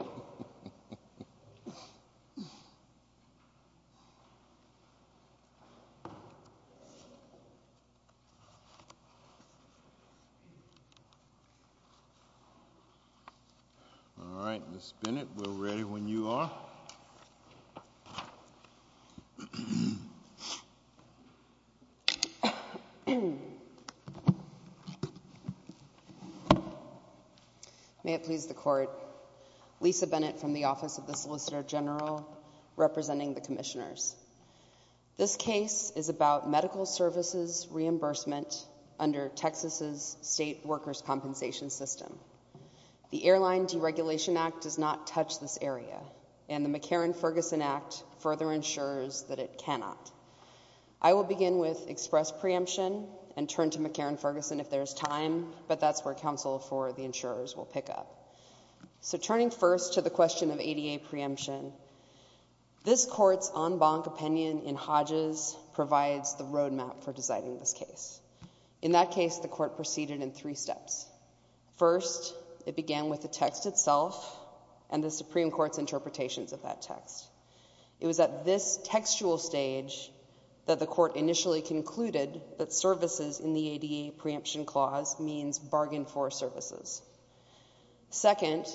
All right, Ms. Bennett, we're ready when you are. May it please the Court, Lisa Bennett from the Office of the Solicitor General representing the Commissioners. This case is about medical services reimbursement under Texas' state workers' compensation system. The Airline Deregulation Act does not touch this area, and the McCarran-Ferguson Act further ensures that it cannot. I will begin with express preemption and turn to McCarran-Ferguson if there's time, but that's where counsel for the insurers will pick up. So turning first to the question of ADA preemption, this Court's en banc opinion in Hodges provides the roadmap for designing this case. In that case, the Court proceeded in three steps. First, it began with the text itself and the Supreme Court's interpretations of that text. It was at this textual stage that the Court initially concluded that services in the ADA preemption clause means bargain for services. Second,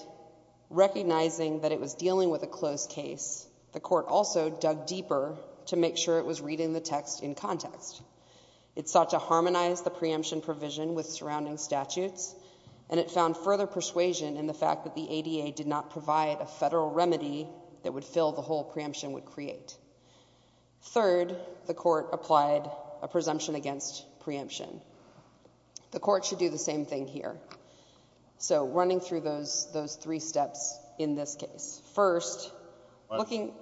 recognizing that it was dealing with a closed case, the Court also dug deeper to make sure it was reading the text in context. It sought to harmonize the preemption provision with surrounding statutes, and it found further persuasion in the fact that the ADA did not provide a federal remedy that would fill the whole preemption would create. Third, the Court applied a presumption against preemption. The Court should do the same thing here. So running through those three steps in this case. First, looking—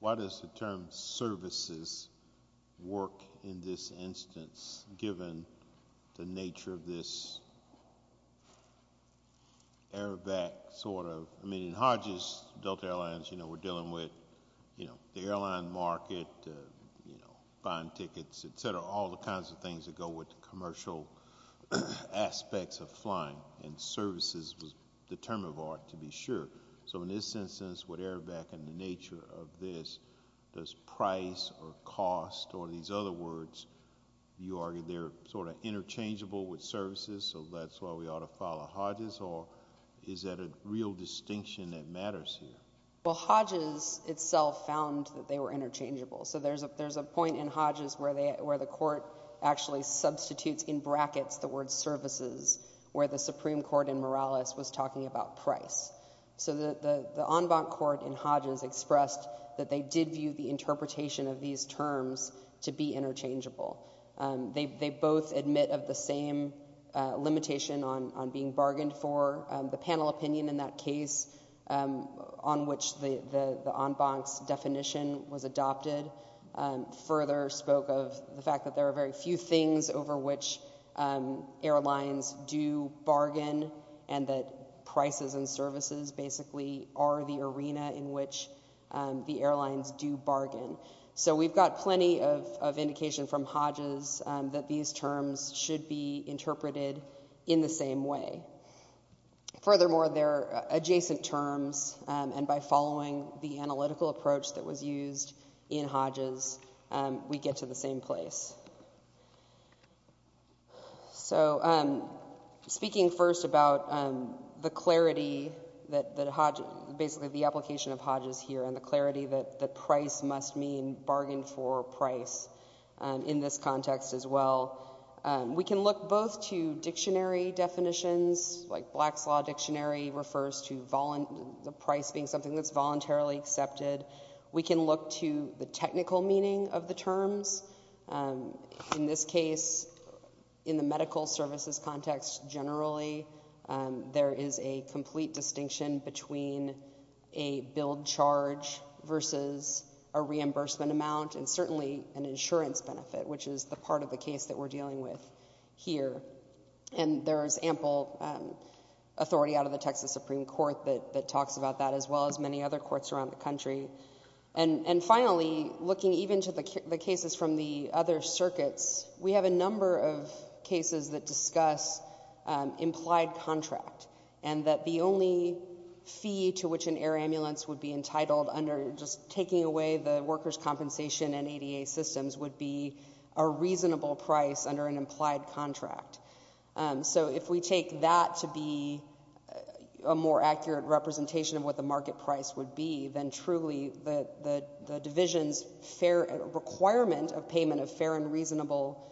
Why does the term services work in this instance, given the nature of this airbag sort of—I mean, in Hodges, Delta Airlines, you know, we're dealing with, you know, the airline market, you know, buying tickets, et cetera, all the kinds of things that go with the commercial aspects of flying, and services was the term of art, to be sure. So in this instance, with airbag and the nature of this, does price or cost or these other words, you argue they're sort of interchangeable with services, so that's why we ought to follow Hodges, or is that a real distinction that matters here? Well, Hodges itself found that they were interchangeable. So there's a point in Hodges where the Court actually substitutes in brackets the word services, where the Supreme Court in Morales was talking about price. So the en banc court in Hodges expressed that they did view the interpretation of these terms to be interchangeable. They both admit of the same limitation on being bargained for. The panel opinion in that case, on which the en banc's definition was adopted, further spoke of the basically are the arena in which the airlines do bargain. So we've got plenty of indication from Hodges that these terms should be interpreted in the same way. Furthermore, they're adjacent terms, and by following the analytical approach that was used in Hodges, we get to the same place. So speaking first about the clarity that Hodges, basically the application of Hodges here, and the clarity that the price must mean bargained for price in this context as well, we can look both to dictionary definitions, like Black's Law Dictionary refers to the price being something that's voluntarily accepted. We can look to the technical meaning of the terms. In this case, in the medical services context generally, there is a complete distinction between a billed charge versus a reimbursement amount, and certainly an insurance benefit, which is the part of the case that we're dealing with here. And there's ample authority out of the Texas Supreme Court that talks about that, as well as many other courts around the country. And finally, looking even to the cases from the other circuits, we have a number of cases that discuss implied contract, and that the only fee to which an air ambulance would be entitled under just taking away the workers' compensation and ADA systems would be a reasonable price under an implied contract. So if we take that to be a more accurate representation of what the market price would be, then truly the division's requirement of payment of fair and reasonable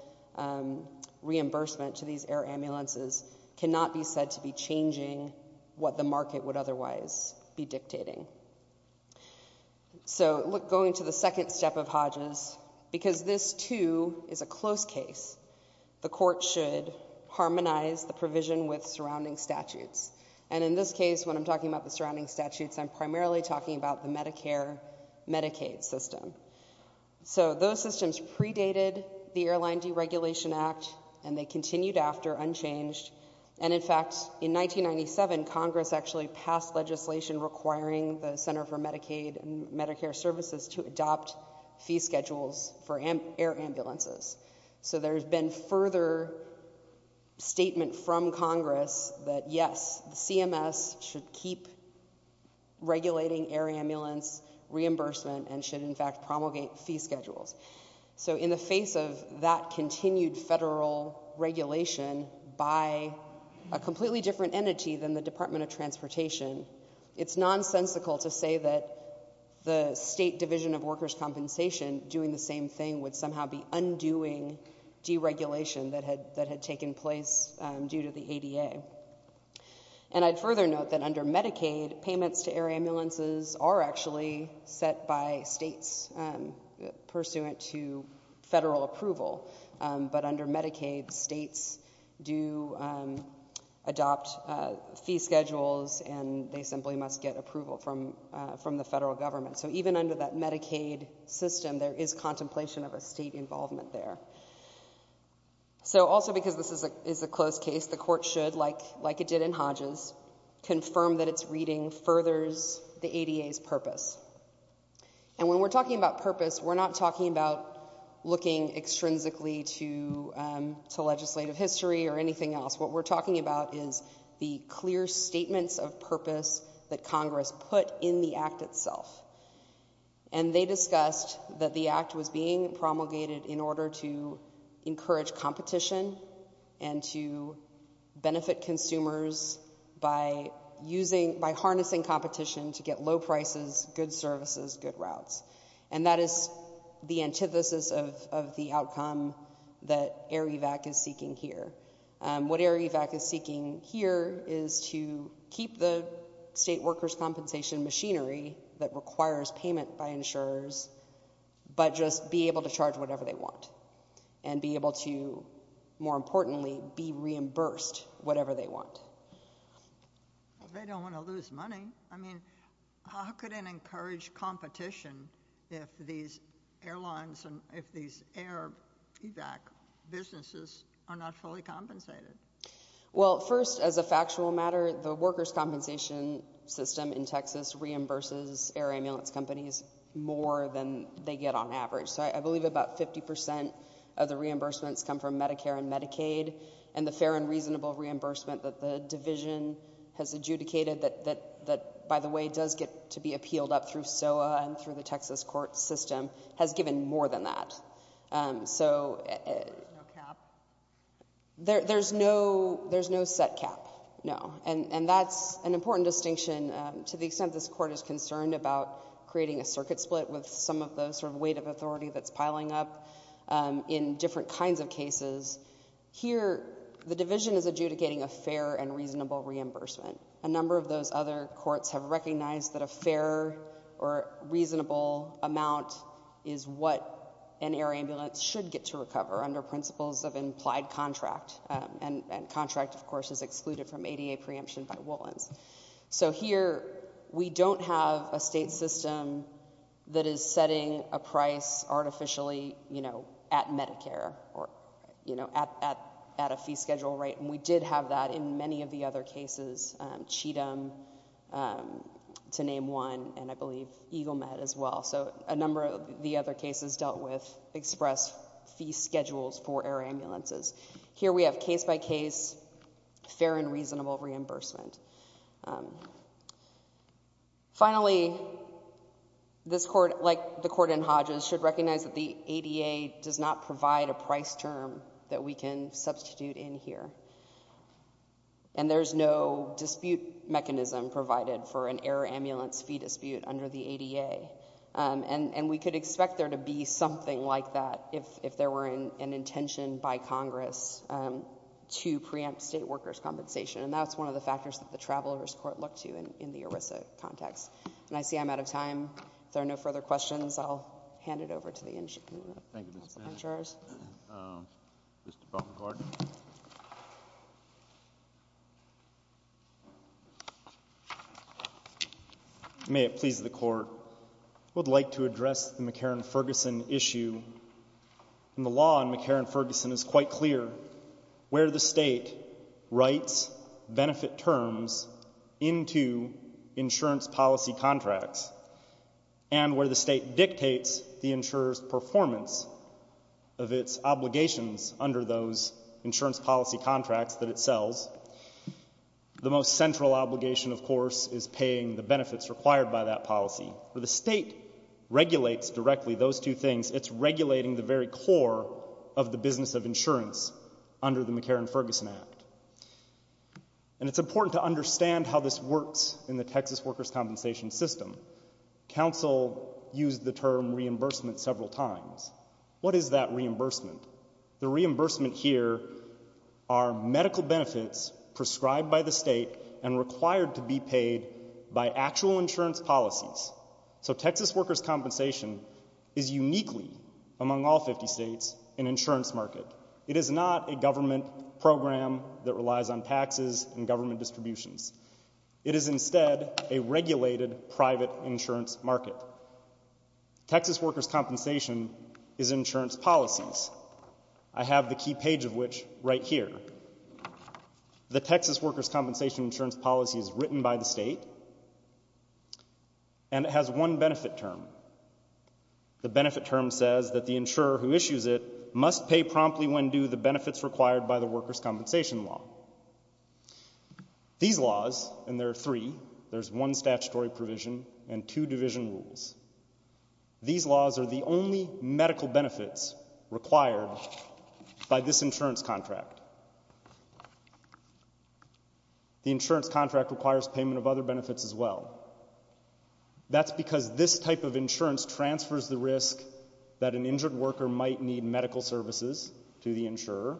reimbursement to these air ambulances cannot be said to be changing what the market would otherwise be dictating. So going to the second step of Hodges, because this, too, is a close case, the court should harmonize the provision with surrounding statutes. And in this case, when I'm talking about the surrounding statutes, I'm primarily talking about the Medicare-Medicaid system. So those systems predated the Airline Deregulation Act, and they continued after, unchanged. And in fact, in 1997, Congress actually passed legislation requiring the Center for Medicaid and Medicare Services to adopt fee schedules for air ambulances. So there's been further statement from Congress that, yes, CMS should keep regulating air ambulance reimbursement and should, in fact, promulgate fee schedules. So in the face of that continued federal regulation by a completely different entity than the Department of Transportation, it's nonsensical to say that the state division of workers' compensation doing the same thing would somehow be undoing deregulation that had taken place due to the ADA. And I'd further note that under Medicaid, payments to air ambulances are actually set by states pursuant to federal approval. But under Medicaid, states do adopt fee schedules, and they simply must get approval from the federal government. So even under that Medicaid system, there is contemplation of a state involvement there. So also because this is a closed case, the Court should, like it did in Hodges, confirm that its reading furthers the ADA's purpose. And when we're talking about purpose, we're not talking about looking extrinsically to legislative history or anything else. What we're talking about is the clear statements of purpose that Congress put in the Act itself. And they discussed that the Act was being promulgated in order to encourage competition and to benefit consumers by harnessing competition to get low prices, good services, good routes. And that is the antithesis of the outcome that AIREVAC is seeking here. What AIREVAC is seeking here is to keep the state workers' compensation machinery that requires payment by insurers, but just be able to charge whatever they want. And be able to, more importantly, be reimbursed whatever they want. They don't want to lose money. I mean, how could it encourage competition if these airlines and if these AIREVAC businesses are not fully compensated? Well, first, as a factual matter, the workers' compensation system in Texas reimburses air ambulance companies more than they get on average. So I believe about 50 percent of the reimbursements come from Medicare and Medicaid. And the fair and reasonable reimbursement that the division has adjudicated that, by the way, does get to be appealed up through SOA and through the Texas court system, has given more than that. So there's no set cap, no. And that's an important distinction to the extent this court is concerned about creating a circuit split with some of the weight of authority that's piling up in different kinds of cases. Here, the division is adjudicating a fair and reasonable reimbursement. A number of those other courts have recognized that a fair or reasonable amount is what an air ambulance should get to recover under principles of implied contract. And contract, of course, is excluded from ADA preemption by Woollens. So here, we don't have a state system that is setting a price artificially, you know, at Medicare or, you know, at a fee schedule rate. And we did have that in many of the other cases, Cheatham, to name one, and I believe Eagle Med as well. A number of the other cases dealt with express fee schedules for air ambulances. Here, we have case by case fair and reasonable reimbursement. Finally, this court, like the court in Hodges, should recognize that the ADA does not provide a price term that we can substitute in here. And there's no dispute mechanism provided for an air ambulance fee dispute under the ADA. And we could expect there to be something like that if there were an intention by Congress to preempt state workers' compensation. And that's one of the factors that the Travelers Court looked to in the ERISA context. And I see I'm out of time. If there are no further questions, I'll hand it over to the insurers. Mr. Baumgartner. May it please the Court. I would like to address the McCarran-Ferguson issue. And the law on McCarran-Ferguson is quite clear. Where the state writes benefit terms into insurance policy contracts and where the state of its obligations under those insurance policy contracts that it sells, the most central obligation, of course, is paying the benefits required by that policy. Where the state regulates directly those two things, it's regulating the very core of the business of insurance under the McCarran-Ferguson Act. And it's important to understand how this works in the Texas workers' compensation system. Council used the term reimbursement several times. What is that reimbursement? The reimbursement here are medical benefits prescribed by the state and required to be paid by actual insurance policies. So Texas workers' compensation is uniquely, among all 50 states, an insurance market. It is not a government program that relies on taxes and government distributions. It is instead a regulated private insurance market. Therefore, Texas workers' compensation is insurance policies. I have the key page of which right here. The Texas workers' compensation insurance policy is written by the state, and it has one benefit term. The benefit term says that the insurer who issues it must pay promptly when due the benefits required by the workers' compensation law. These laws, and there are three, there's one statutory provision and two division rules. These laws are the only medical benefits required by this insurance contract. The insurance contract requires payment of other benefits as well. That's because this type of insurance transfers the risk that an injured worker might need medical services to the insurer.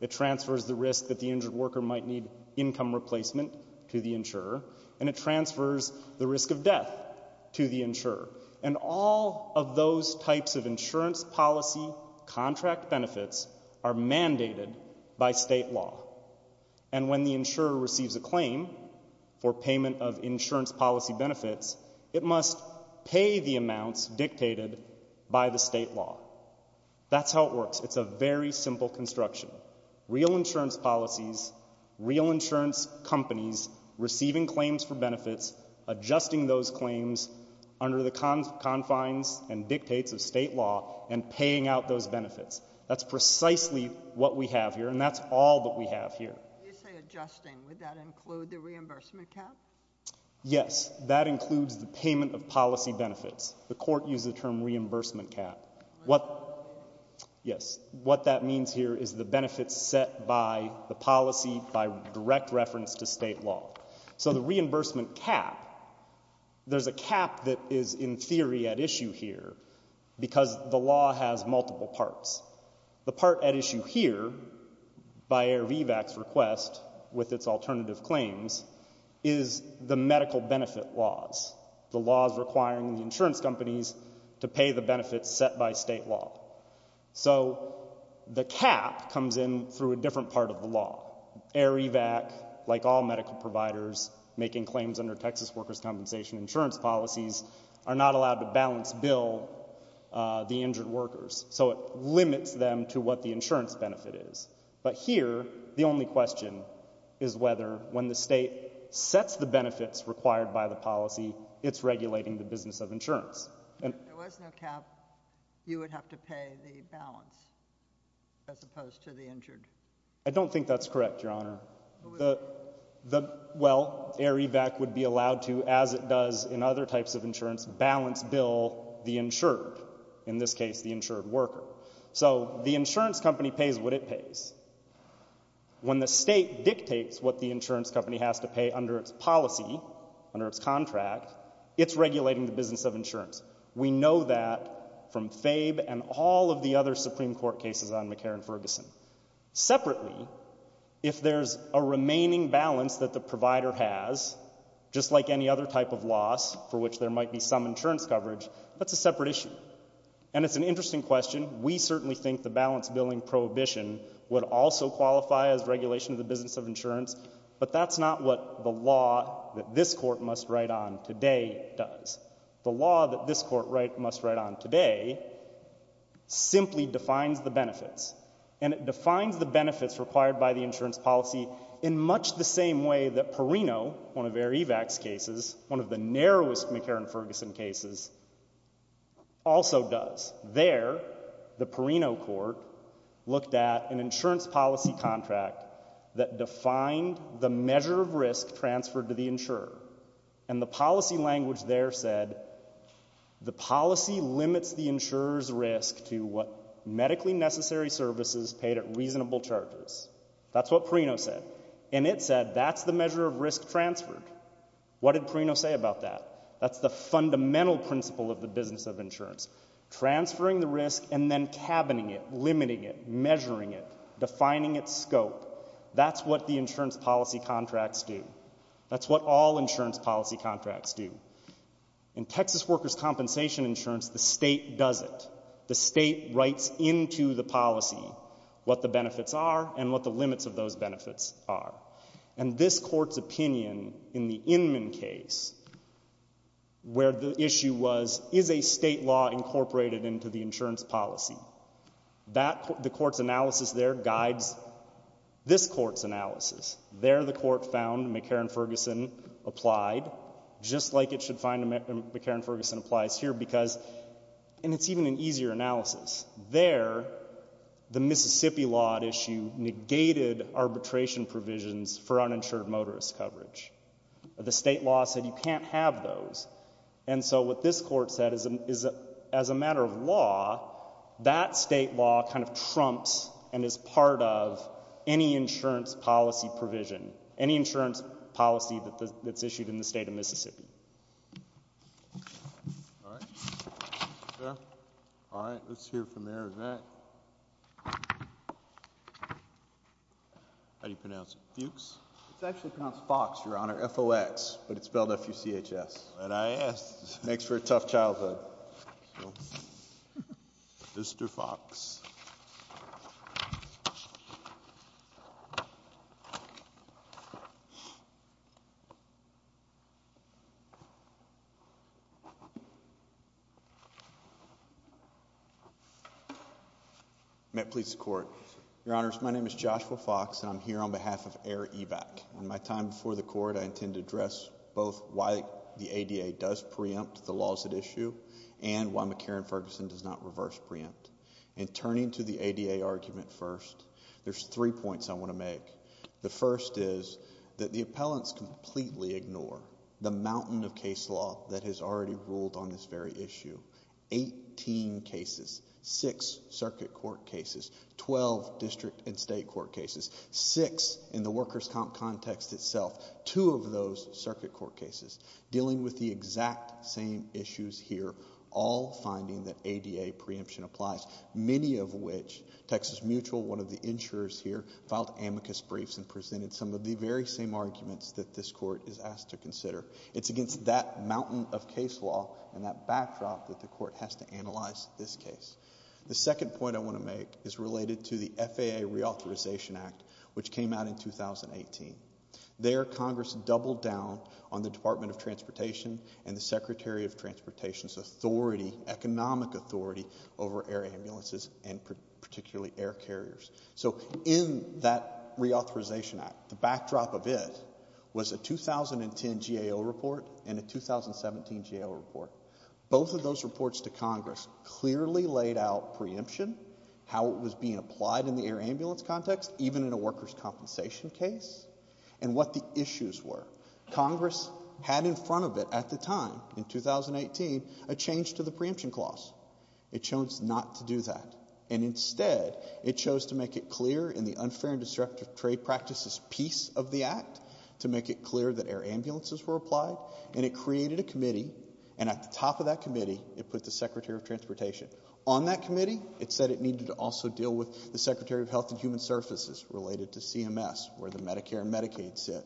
It transfers the risk that the injured worker might need income replacement to the insurer. And it transfers the risk of death to the insurer. And all of those types of insurance policy contract benefits are mandated by state law. And when the insurer receives a claim for payment of insurance policy benefits, it must pay the amounts dictated by the state law. That's how it works. It's a very simple construction. Real insurance policies, real insurance companies receiving claims for benefits, adjusting those claims under the confines and dictates of state law, and paying out those benefits. That's precisely what we have here, and that's all that we have here. When you say adjusting, would that include the reimbursement cap? Yes, that includes the payment of policy benefits. The court used the term reimbursement cap. What that means here is the benefits set by the policy, by direct reference to state law. So the reimbursement cap, there's a cap that is in theory at issue here, because the law has multiple parts. The part at issue here, by AIR-VVAC's request, with its alternative claims, is the medical benefit laws. The laws requiring the insurance companies to pay the benefits set by state law. So the cap comes in through a different part of the law. AIR-VVAC, like all medical providers, making claims under Texas workers' compensation insurance policies, are not allowed to balance bill the injured workers. So it limits them to what the insurance benefit is. But here, the only question is whether, when the state sets the benefits required by the policy, it's regulating the business of insurance. If there was no cap, you would have to pay the balance as opposed to the injured? I don't think that's correct, Your Honor. Well, AIR-VVAC would be allowed to, as it does in other types of insurance, balance bill the insured, in this case the insured worker. So the insurance company pays what it pays. When the state dictates what the insurance company has to pay under its policy, under its contract, it's regulating the business of insurance. We know that from FABE and all of the other Supreme Court cases on McCarran-Ferguson. Separately, if there's a remaining balance that the provider has, just like any other type of loss for which there might be some insurance coverage, that's a separate issue. And it's an interesting question. We certainly think the balance billing prohibition would also qualify as regulation of the business of insurance. But that's not what the law that this court must write on today does. The law that this court must write on today simply defines the benefits. And it defines the benefits required by the insurance policy in much the same way that Perino, one of AIR-VVAC's cases, one of the narrowest McCarran-Ferguson cases, also does. There, the Perino court looked at an insurance policy contract that defined the measure of risk transferred to the insurer. And the policy language there said, the policy limits the insurer's risk to what medically necessary services paid at reasonable charges. That's what Perino said. And it said, that's the measure of risk transferred. What did Perino say about that? That's the fundamental principle of the business of insurance. Transferring the risk and then cabining it, limiting it, measuring it, defining its scope. That's what the insurance policy contracts do. That's what all insurance policy contracts do. In Texas workers' compensation insurance, the state does it. The state writes into the policy what the benefits are and what the limits of those benefits are. And this court's opinion in the Inman case, where the issue was, is a state law incorporated into the insurance policy? That, the court's analysis there guides this court's analysis. There, the court found McCarran-Ferguson applied, just like it should find McCarran-Ferguson applies here, because, and it's even an easier analysis. There, the Mississippi law issue negated arbitration provisions for uninsured motorist coverage. The state law said you can't have those. And so what this court said is, as a matter of law, that state law kind of trumps and is part of any insurance policy provision, any insurance policy that's issued in the state of Mississippi. All right. All right, let's hear from Mayor Evatt. How do you pronounce it? Fuchs? It's actually pronounced Fox, Your Honor. F-O-X. But it's spelled F-U-C-H-S. That's what I asked. Makes for a tough childhood. Mr. Fox. Met Police Court. Your Honors, my name is Joshua Fox. I'm here on behalf of Air Evac. In my time before the court, I intend to address both why the ADA does preempt the laws at issue and why McCarran-Ferguson does not reverse preempt. And turning to the ADA argument first, there's three points I want to make. The first is that the appellants completely ignore the mountain of case law that has already ruled on this very issue. Eighteen cases. Six circuit court cases. Twelve district and state court cases. Six in the workers' comp context itself. Two of those circuit court cases. Dealing with the exact same issues here. All finding that ADA preemption applies. Many of which, Texas Mutual, one of the insurers here, filed amicus briefs and presented some of the very same arguments that this court is asked to consider. It's against that mountain of case law and that backdrop that the court has to analyze this case. The second point I want to make is related to the FAA Reauthorization Act, which came out in 2018. There, Congress doubled down on the Department of Transportation and the Secretary of Transportation's authority, economic authority, over air ambulances and particularly air carriers. So in that Reauthorization Act, the backdrop of it was a 2010 GAO report and a 2017 GAO report. Both of those reports to Congress clearly laid out preemption, how it was being applied in the air ambulance context, even in a workers' compensation case, and what the issues were. Congress had in front of it at the time, in 2018, a change to the preemption clause. It chose not to do that. And instead, it chose to make it clear in the Unfair and Disruptive Trade Practices piece of the Act to make it clear that air ambulances were applied. And it created a committee. And at the top of that committee, it put the Secretary of Transportation. On that committee, it said it needed to also deal with the Secretary of Health and Human Services, related to CMS, where the Medicare and Medicaid sit.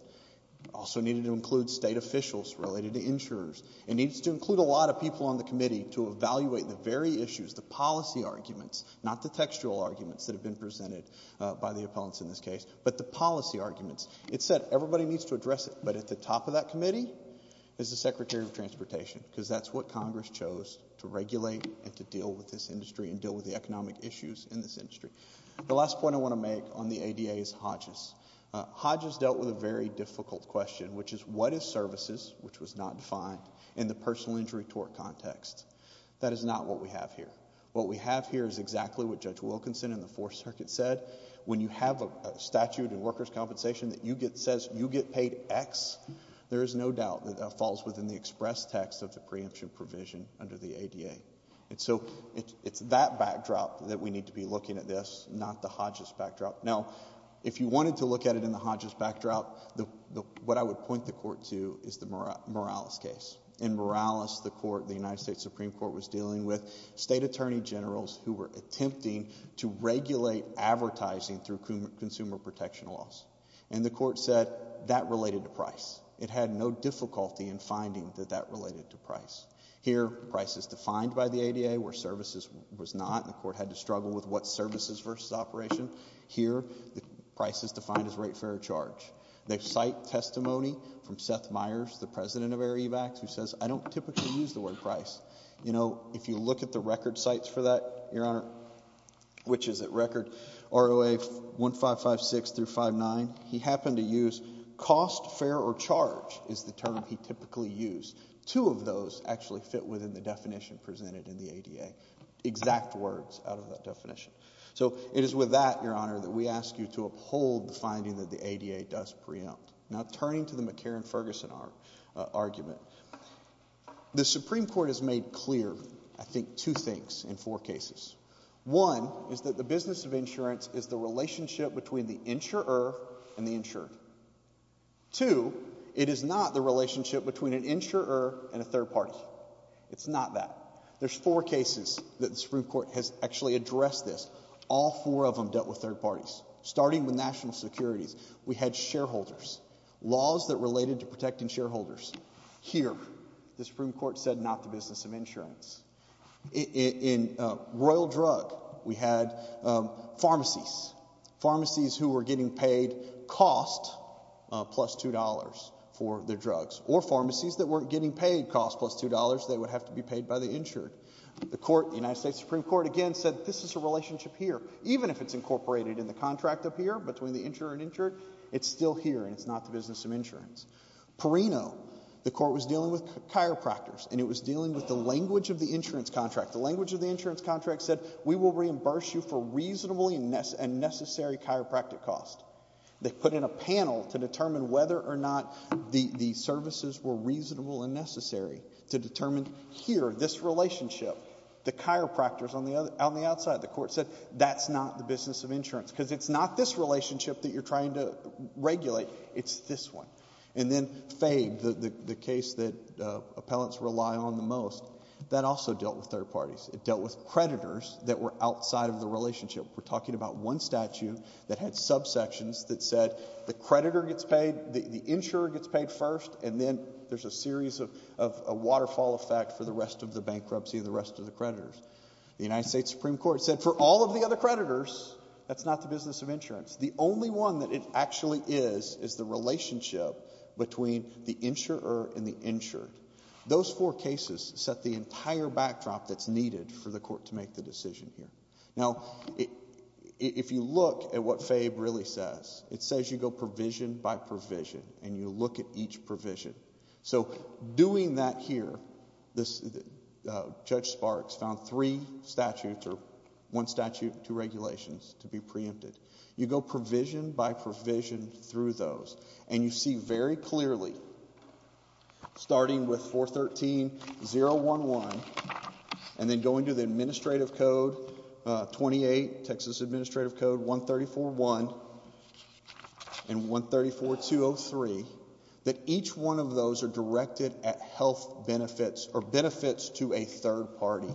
Also needed to include state officials related to insurers. It needs to include a lot of people on the committee to evaluate the very issues, the policy arguments, not the textual arguments that have been presented by the opponents in this case, but the policy arguments. It said everybody needs to address it. But at the top of that committee is the Secretary of Transportation, because that's what Congress chose to regulate and to deal with this industry and deal with the economic issues in this industry. The last point I want to make on the ADA is Hodges. Hodges dealt with a very difficult question, which is what is services, which was not defined in the personal injury tort context. That is not what we have here. What we have here is exactly what Judge Wilkinson in the Fourth Circuit said. When you have a statute in workers' compensation that says you get paid X, there is no doubt that that falls within the express text of the preemption provision under the ADA. So it's that backdrop that we need to be looking at this, not the Hodges backdrop. Now, if you wanted to look at it in the Hodges backdrop, what I would point the Court to is the Morales case. In Morales, the United States Supreme Court was dealing with state attorney generals who were attempting to regulate advertising through consumer protection laws. And the Court said that related to price. It had no difficulty in finding that that related to price. Here, price is defined by the ADA, where services was not, and the Court had to struggle with what services versus operation. Here, the price is defined as rate fair charge. They cite testimony from Seth Meyers, the president of Air Evacs, who says, I don't typically use the word price. You know, if you look at the record sites for that, Your Honor, which is at record ROA 1556 through 59, he happened to use cost, fair, or charge is the term he typically used. Two of those actually fit within the definition presented in the ADA, exact words out of that definition. So it is with that, Your Honor, that we ask you to uphold the finding that the ADA does preempt. Now, turning to the McCarran-Ferguson argument, the Supreme Court has made clear, I think, two things in four cases. One is that the business of insurance is the relationship between the insurer and the insured. Two, it is not the relationship between an insurer and a third party. It's not that. There's four cases that the Supreme Court has actually addressed this. All four of them dealt with third parties. Starting with national securities, we had shareholders, laws that related to protecting shareholders. Here, the Supreme Court said not the business of insurance. In royal drug, we had pharmacies, pharmacies who were getting paid cost plus $2 for their drugs, or pharmacies that weren't getting paid cost plus $2. They would have to be paid by the insured. The court, the United States Supreme Court, again, said this is a relationship here, even if it's incorporated in the contract up here between the insurer and insured, it's still here, and it's not the business of insurance. Perino, the court was dealing with chiropractors, and it was dealing with the language of the insurance contract. The language of the insurance contract said, we will reimburse you for reasonable and necessary chiropractic cost. They put in a panel to determine whether or not the services were reasonable and necessary to determine here, this relationship. The chiropractors on the outside, the court said, that's not the business of insurance, because it's not this relationship that you're trying to regulate. It's this one. And then FABE, the case that appellants rely on the most, that also dealt with third parties. It dealt with creditors that were outside of the relationship. We're talking about one statute that had subsections that said the creditor gets paid, the insurer gets paid first, and then there's a series of a waterfall effect for the rest of the creditors. The United States Supreme Court said, for all of the other creditors, that's not the business of insurance. The only one that it actually is, is the relationship between the insurer and the insured. Those four cases set the entire backdrop that's needed for the court to make the decision here. Now, if you look at what FABE really says, it says you go provision by provision, and you look at each provision. So doing that here, Judge Sparks found three statutes, or one statute, two regulations to be preempted. You go provision by provision through those. And you see very clearly, starting with 413-011, and then going to the administrative code, 28, Texas Administrative Code, 134-1, and 134-203, that each one of those are directed at health benefits, or benefits to a third party.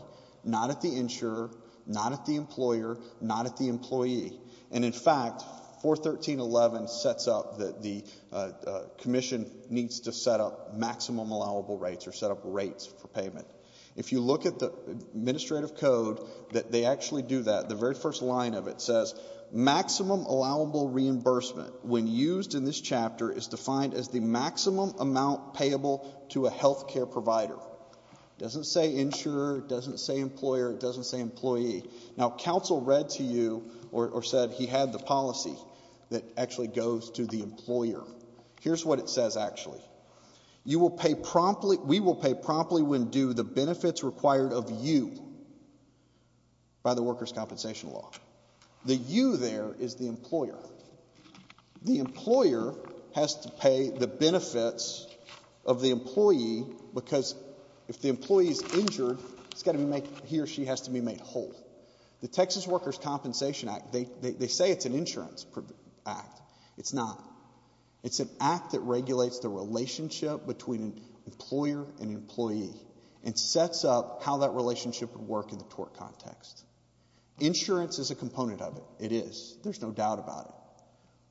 Not at the insurer, not at the employer, not at the employee. And in fact, 413-011 sets up that the commission needs to set up maximum allowable rates, or set up rates for payment. If you look at the administrative code, they actually do that. The very first line of it says, maximum allowable reimbursement, when used in this chapter, is defined as the maximum amount payable to a health care provider. It doesn't say insurer, it doesn't say employer, it doesn't say employee. Now, counsel read to you, or said he had the policy that actually goes to the employer. Here's what it says, actually. You will pay promptly, we will pay promptly when due, the benefits required of you by the workers' compensation law. The you there is the employer. The employer has to pay the benefits of the employee, because if the employee is injured, it's got to be made, he or she has to be made whole. The Texas Workers' Compensation Act, they say it's an insurance act. It's not. It's an act that regulates the relationship between an employer and employee, and sets up how that relationship would work in the tort context. Insurance is a component of it. It is. There's no doubt about it.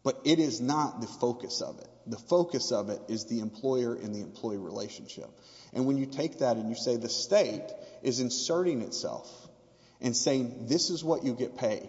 But it is not the focus of it. The focus of it is the employer and the employee relationship. And when you take that and you say the state is inserting itself, and saying this is what you get paid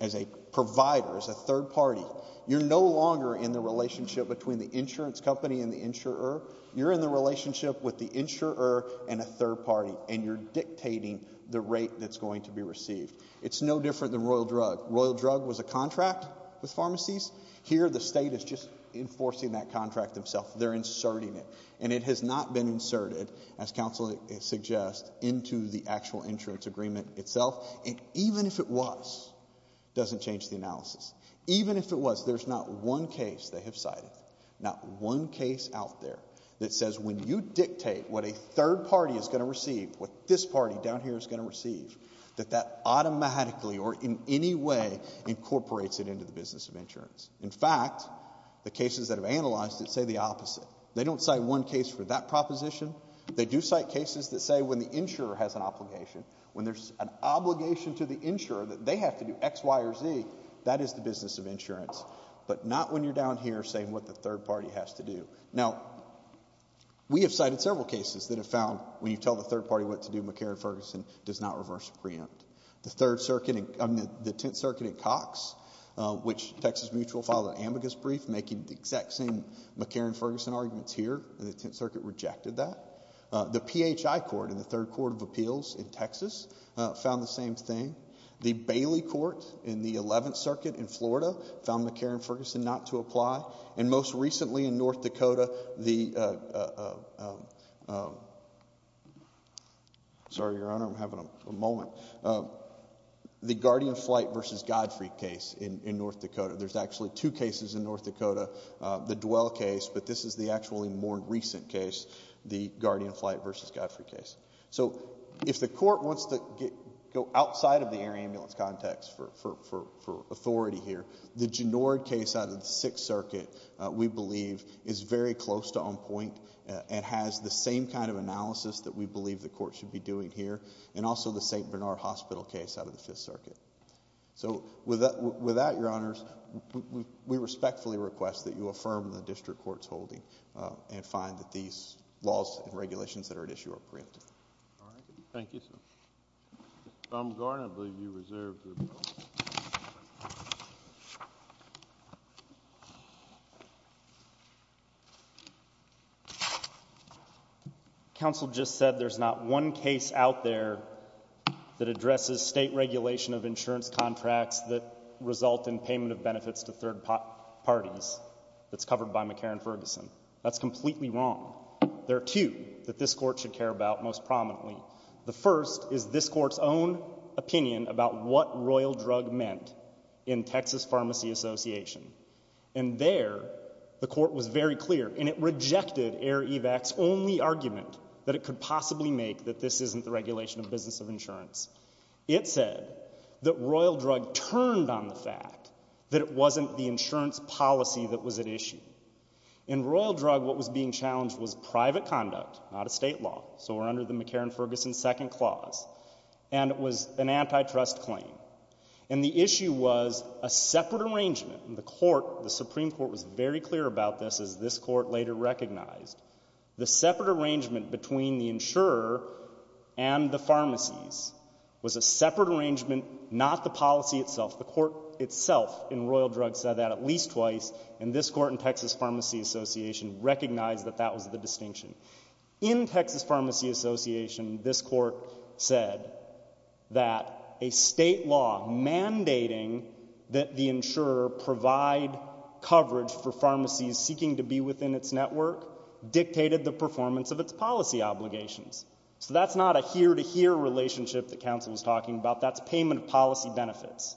as a provider, as a third party, you're no longer in the relationship between the insurance company and the insurer. You're in the relationship with the insurer and a third party, and you're dictating the rate that's going to be received. It's no different than Royal Drug. Royal Drug was a contract with pharmacies. Here, the state is just enforcing that contract itself. They're inserting it. And it has not been inserted, as counsel suggests, into the actual insurance agreement itself. And even if it was, it doesn't change the analysis. Even if it was, there's not one case they have cited, not one case out there that says when you dictate what a third party is going to receive, what this party down here is going to receive, that that automatically or in any way incorporates it into the business of insurance. In fact, the cases that have analyzed it say the opposite. They don't cite one case for that proposition. They do cite cases that say when the insurer has an obligation, when there's an obligation to the insurer that they have to do X, Y, or Z, that is the business of insurance, but not when you're down here saying what the third party has to do. Now, we have cited several cases that have found when you tell the third party what to do, McCarran-Ferguson does not reverse a preempt. The Third Circuit, the Tenth Circuit at Cox, which Texas Mutual filed an ambiguous brief making the exact same McCarran-Ferguson arguments here, and the Tenth Circuit rejected that. The PHI Court in the Third Court of Appeals in Texas found the same thing. The Bailey Court in the Eleventh Circuit in Florida found McCarran-Ferguson not to apply. And most recently in North Dakota, the Guardian Flight v. Godfreak case in North Dakota. There's actually two cases in North Dakota, the Dwell case, but this is the actually more recent case, the Guardian Flight v. Godfreak case. So, if the court wants to go outside of the air ambulance context for authority here, the Ginord case out of the Sixth Circuit, we believe, is very close to on point and has the same kind of analysis that we believe the court should be doing here, and also the St. Bernard Hospital case out of the Fifth Circuit. So, with that, Your Honors, we respectfully request that you affirm the district court's and find that these laws and regulations that are at issue are preemptive. All right. Thank you, sir. Mr. Baumgartner, I believe you reserved your vote. Counsel just said there's not one case out there that addresses state regulation of insurance contracts that result in payment of benefits to third parties. That's covered by McCarran-Ferguson. That's completely wrong. There are two that this court should care about most prominently. The first is this court's own opinion about what royal drug meant in Texas Pharmacy Association. And there, the court was very clear, and it rejected Air Evac's only argument that it could possibly make that this isn't the regulation of business of insurance. It said that royal drug turned on the fact that it wasn't the insurance policy that was at issue. In royal drug, what was being challenged was private conduct, not a state law. So we're under the McCarran-Ferguson second clause. And it was an antitrust claim. And the issue was a separate arrangement in the court. The Supreme Court was very clear about this, as this court later recognized. The separate arrangement between the insurer and the pharmacies was a separate arrangement, not the policy itself. The court itself in royal drug said that at least twice. And this court in Texas Pharmacy Association recognized that that was the distinction. In Texas Pharmacy Association, this court said that a state law mandating that the insurer provide coverage for pharmacies seeking to be within its network dictated the performance of its policy obligations. So that's not a here-to-here relationship that counsel was talking about. That's payment of policy benefits.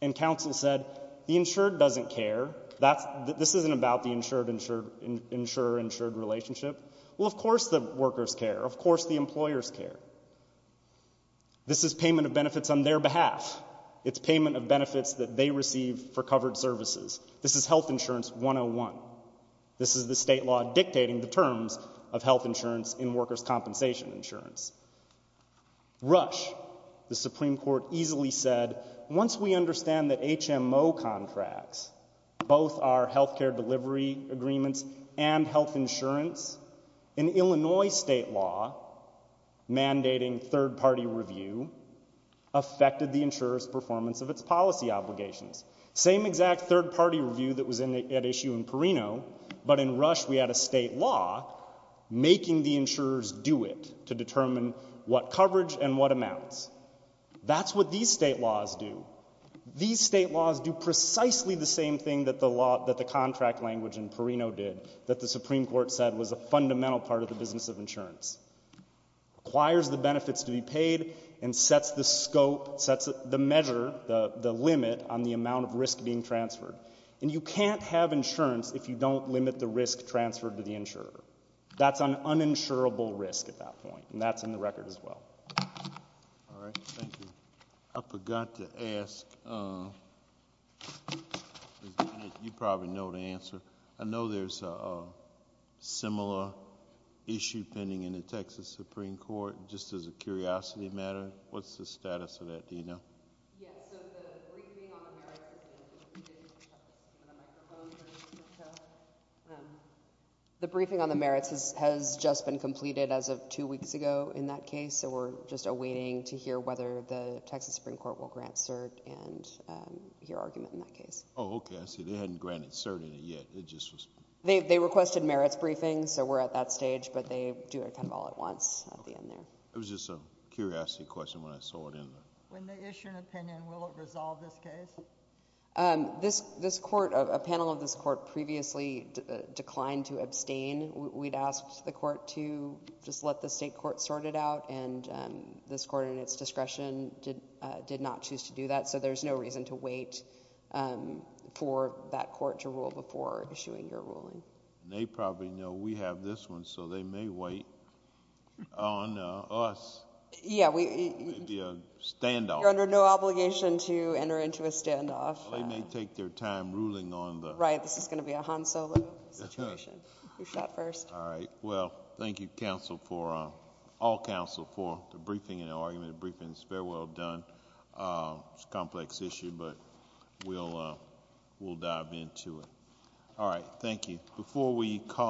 And counsel said, the insured doesn't care. That's, this isn't about the insured-insured, insurer-insured relationship. Well, of course the workers care. Of course the employers care. This is payment of benefits on their behalf. It's payment of benefits that they receive for covered services. This is health insurance 101. This is the state law dictating the terms of health insurance in workers' compensation insurance. Rush, the Supreme Court easily said, once we understand that HMO contracts, both our health care delivery agreements and health insurance, in Illinois state law, mandating third-party review, affected the insurer's performance of its policy obligations. Same exact third-party review that was at issue in Perino, but in Rush we had a state law making the insurers do it to determine what coverage and what amounts. That's what these state laws do. These state laws do precisely the same thing that the contract language in Perino did, that the Supreme Court said was a fundamental part of the business of insurance. Acquires the benefits to be paid and sets the scope, sets the measure, the limit on the amount of risk being transferred. And you can't have insurance if you don't limit the risk transferred to the insurer. That's an uninsurable risk at that point, and that's in the record as well. All right, thank you. I forgot to ask, you probably know the answer. I know there's a similar issue pending in the Texas Supreme Court, just as a curiosity matter. What's the status of that, do you know? Yes, so the briefing on the merits has just been completed as of two weeks ago in that case, so we're just awaiting to hear whether the Texas Supreme Court will grant cert and hear argument in that case. Oh, okay, I see. They hadn't granted cert in it yet, it just was... They requested merits briefings, so we're at that stage, but they do it kind of all at once at the end there. It was just a curiosity question when I saw it in there. When they issue an opinion, will it resolve this case? A panel of this court previously declined to abstain. We'd asked the court to just let the state court sort it out, and this court, in its before issuing your ruling. They probably know we have this one, so they may wait on us. Yeah, we... It may be a standoff. You're under no obligation to enter into a standoff. They may take their time ruling on the... Right, this is going to be a Han Solo situation. You shot first. All right, well, thank you, all counsel, for the briefing and argument. The briefing is very well done. It's a complex issue, but we'll dive into it. All right, thank you. Before we call...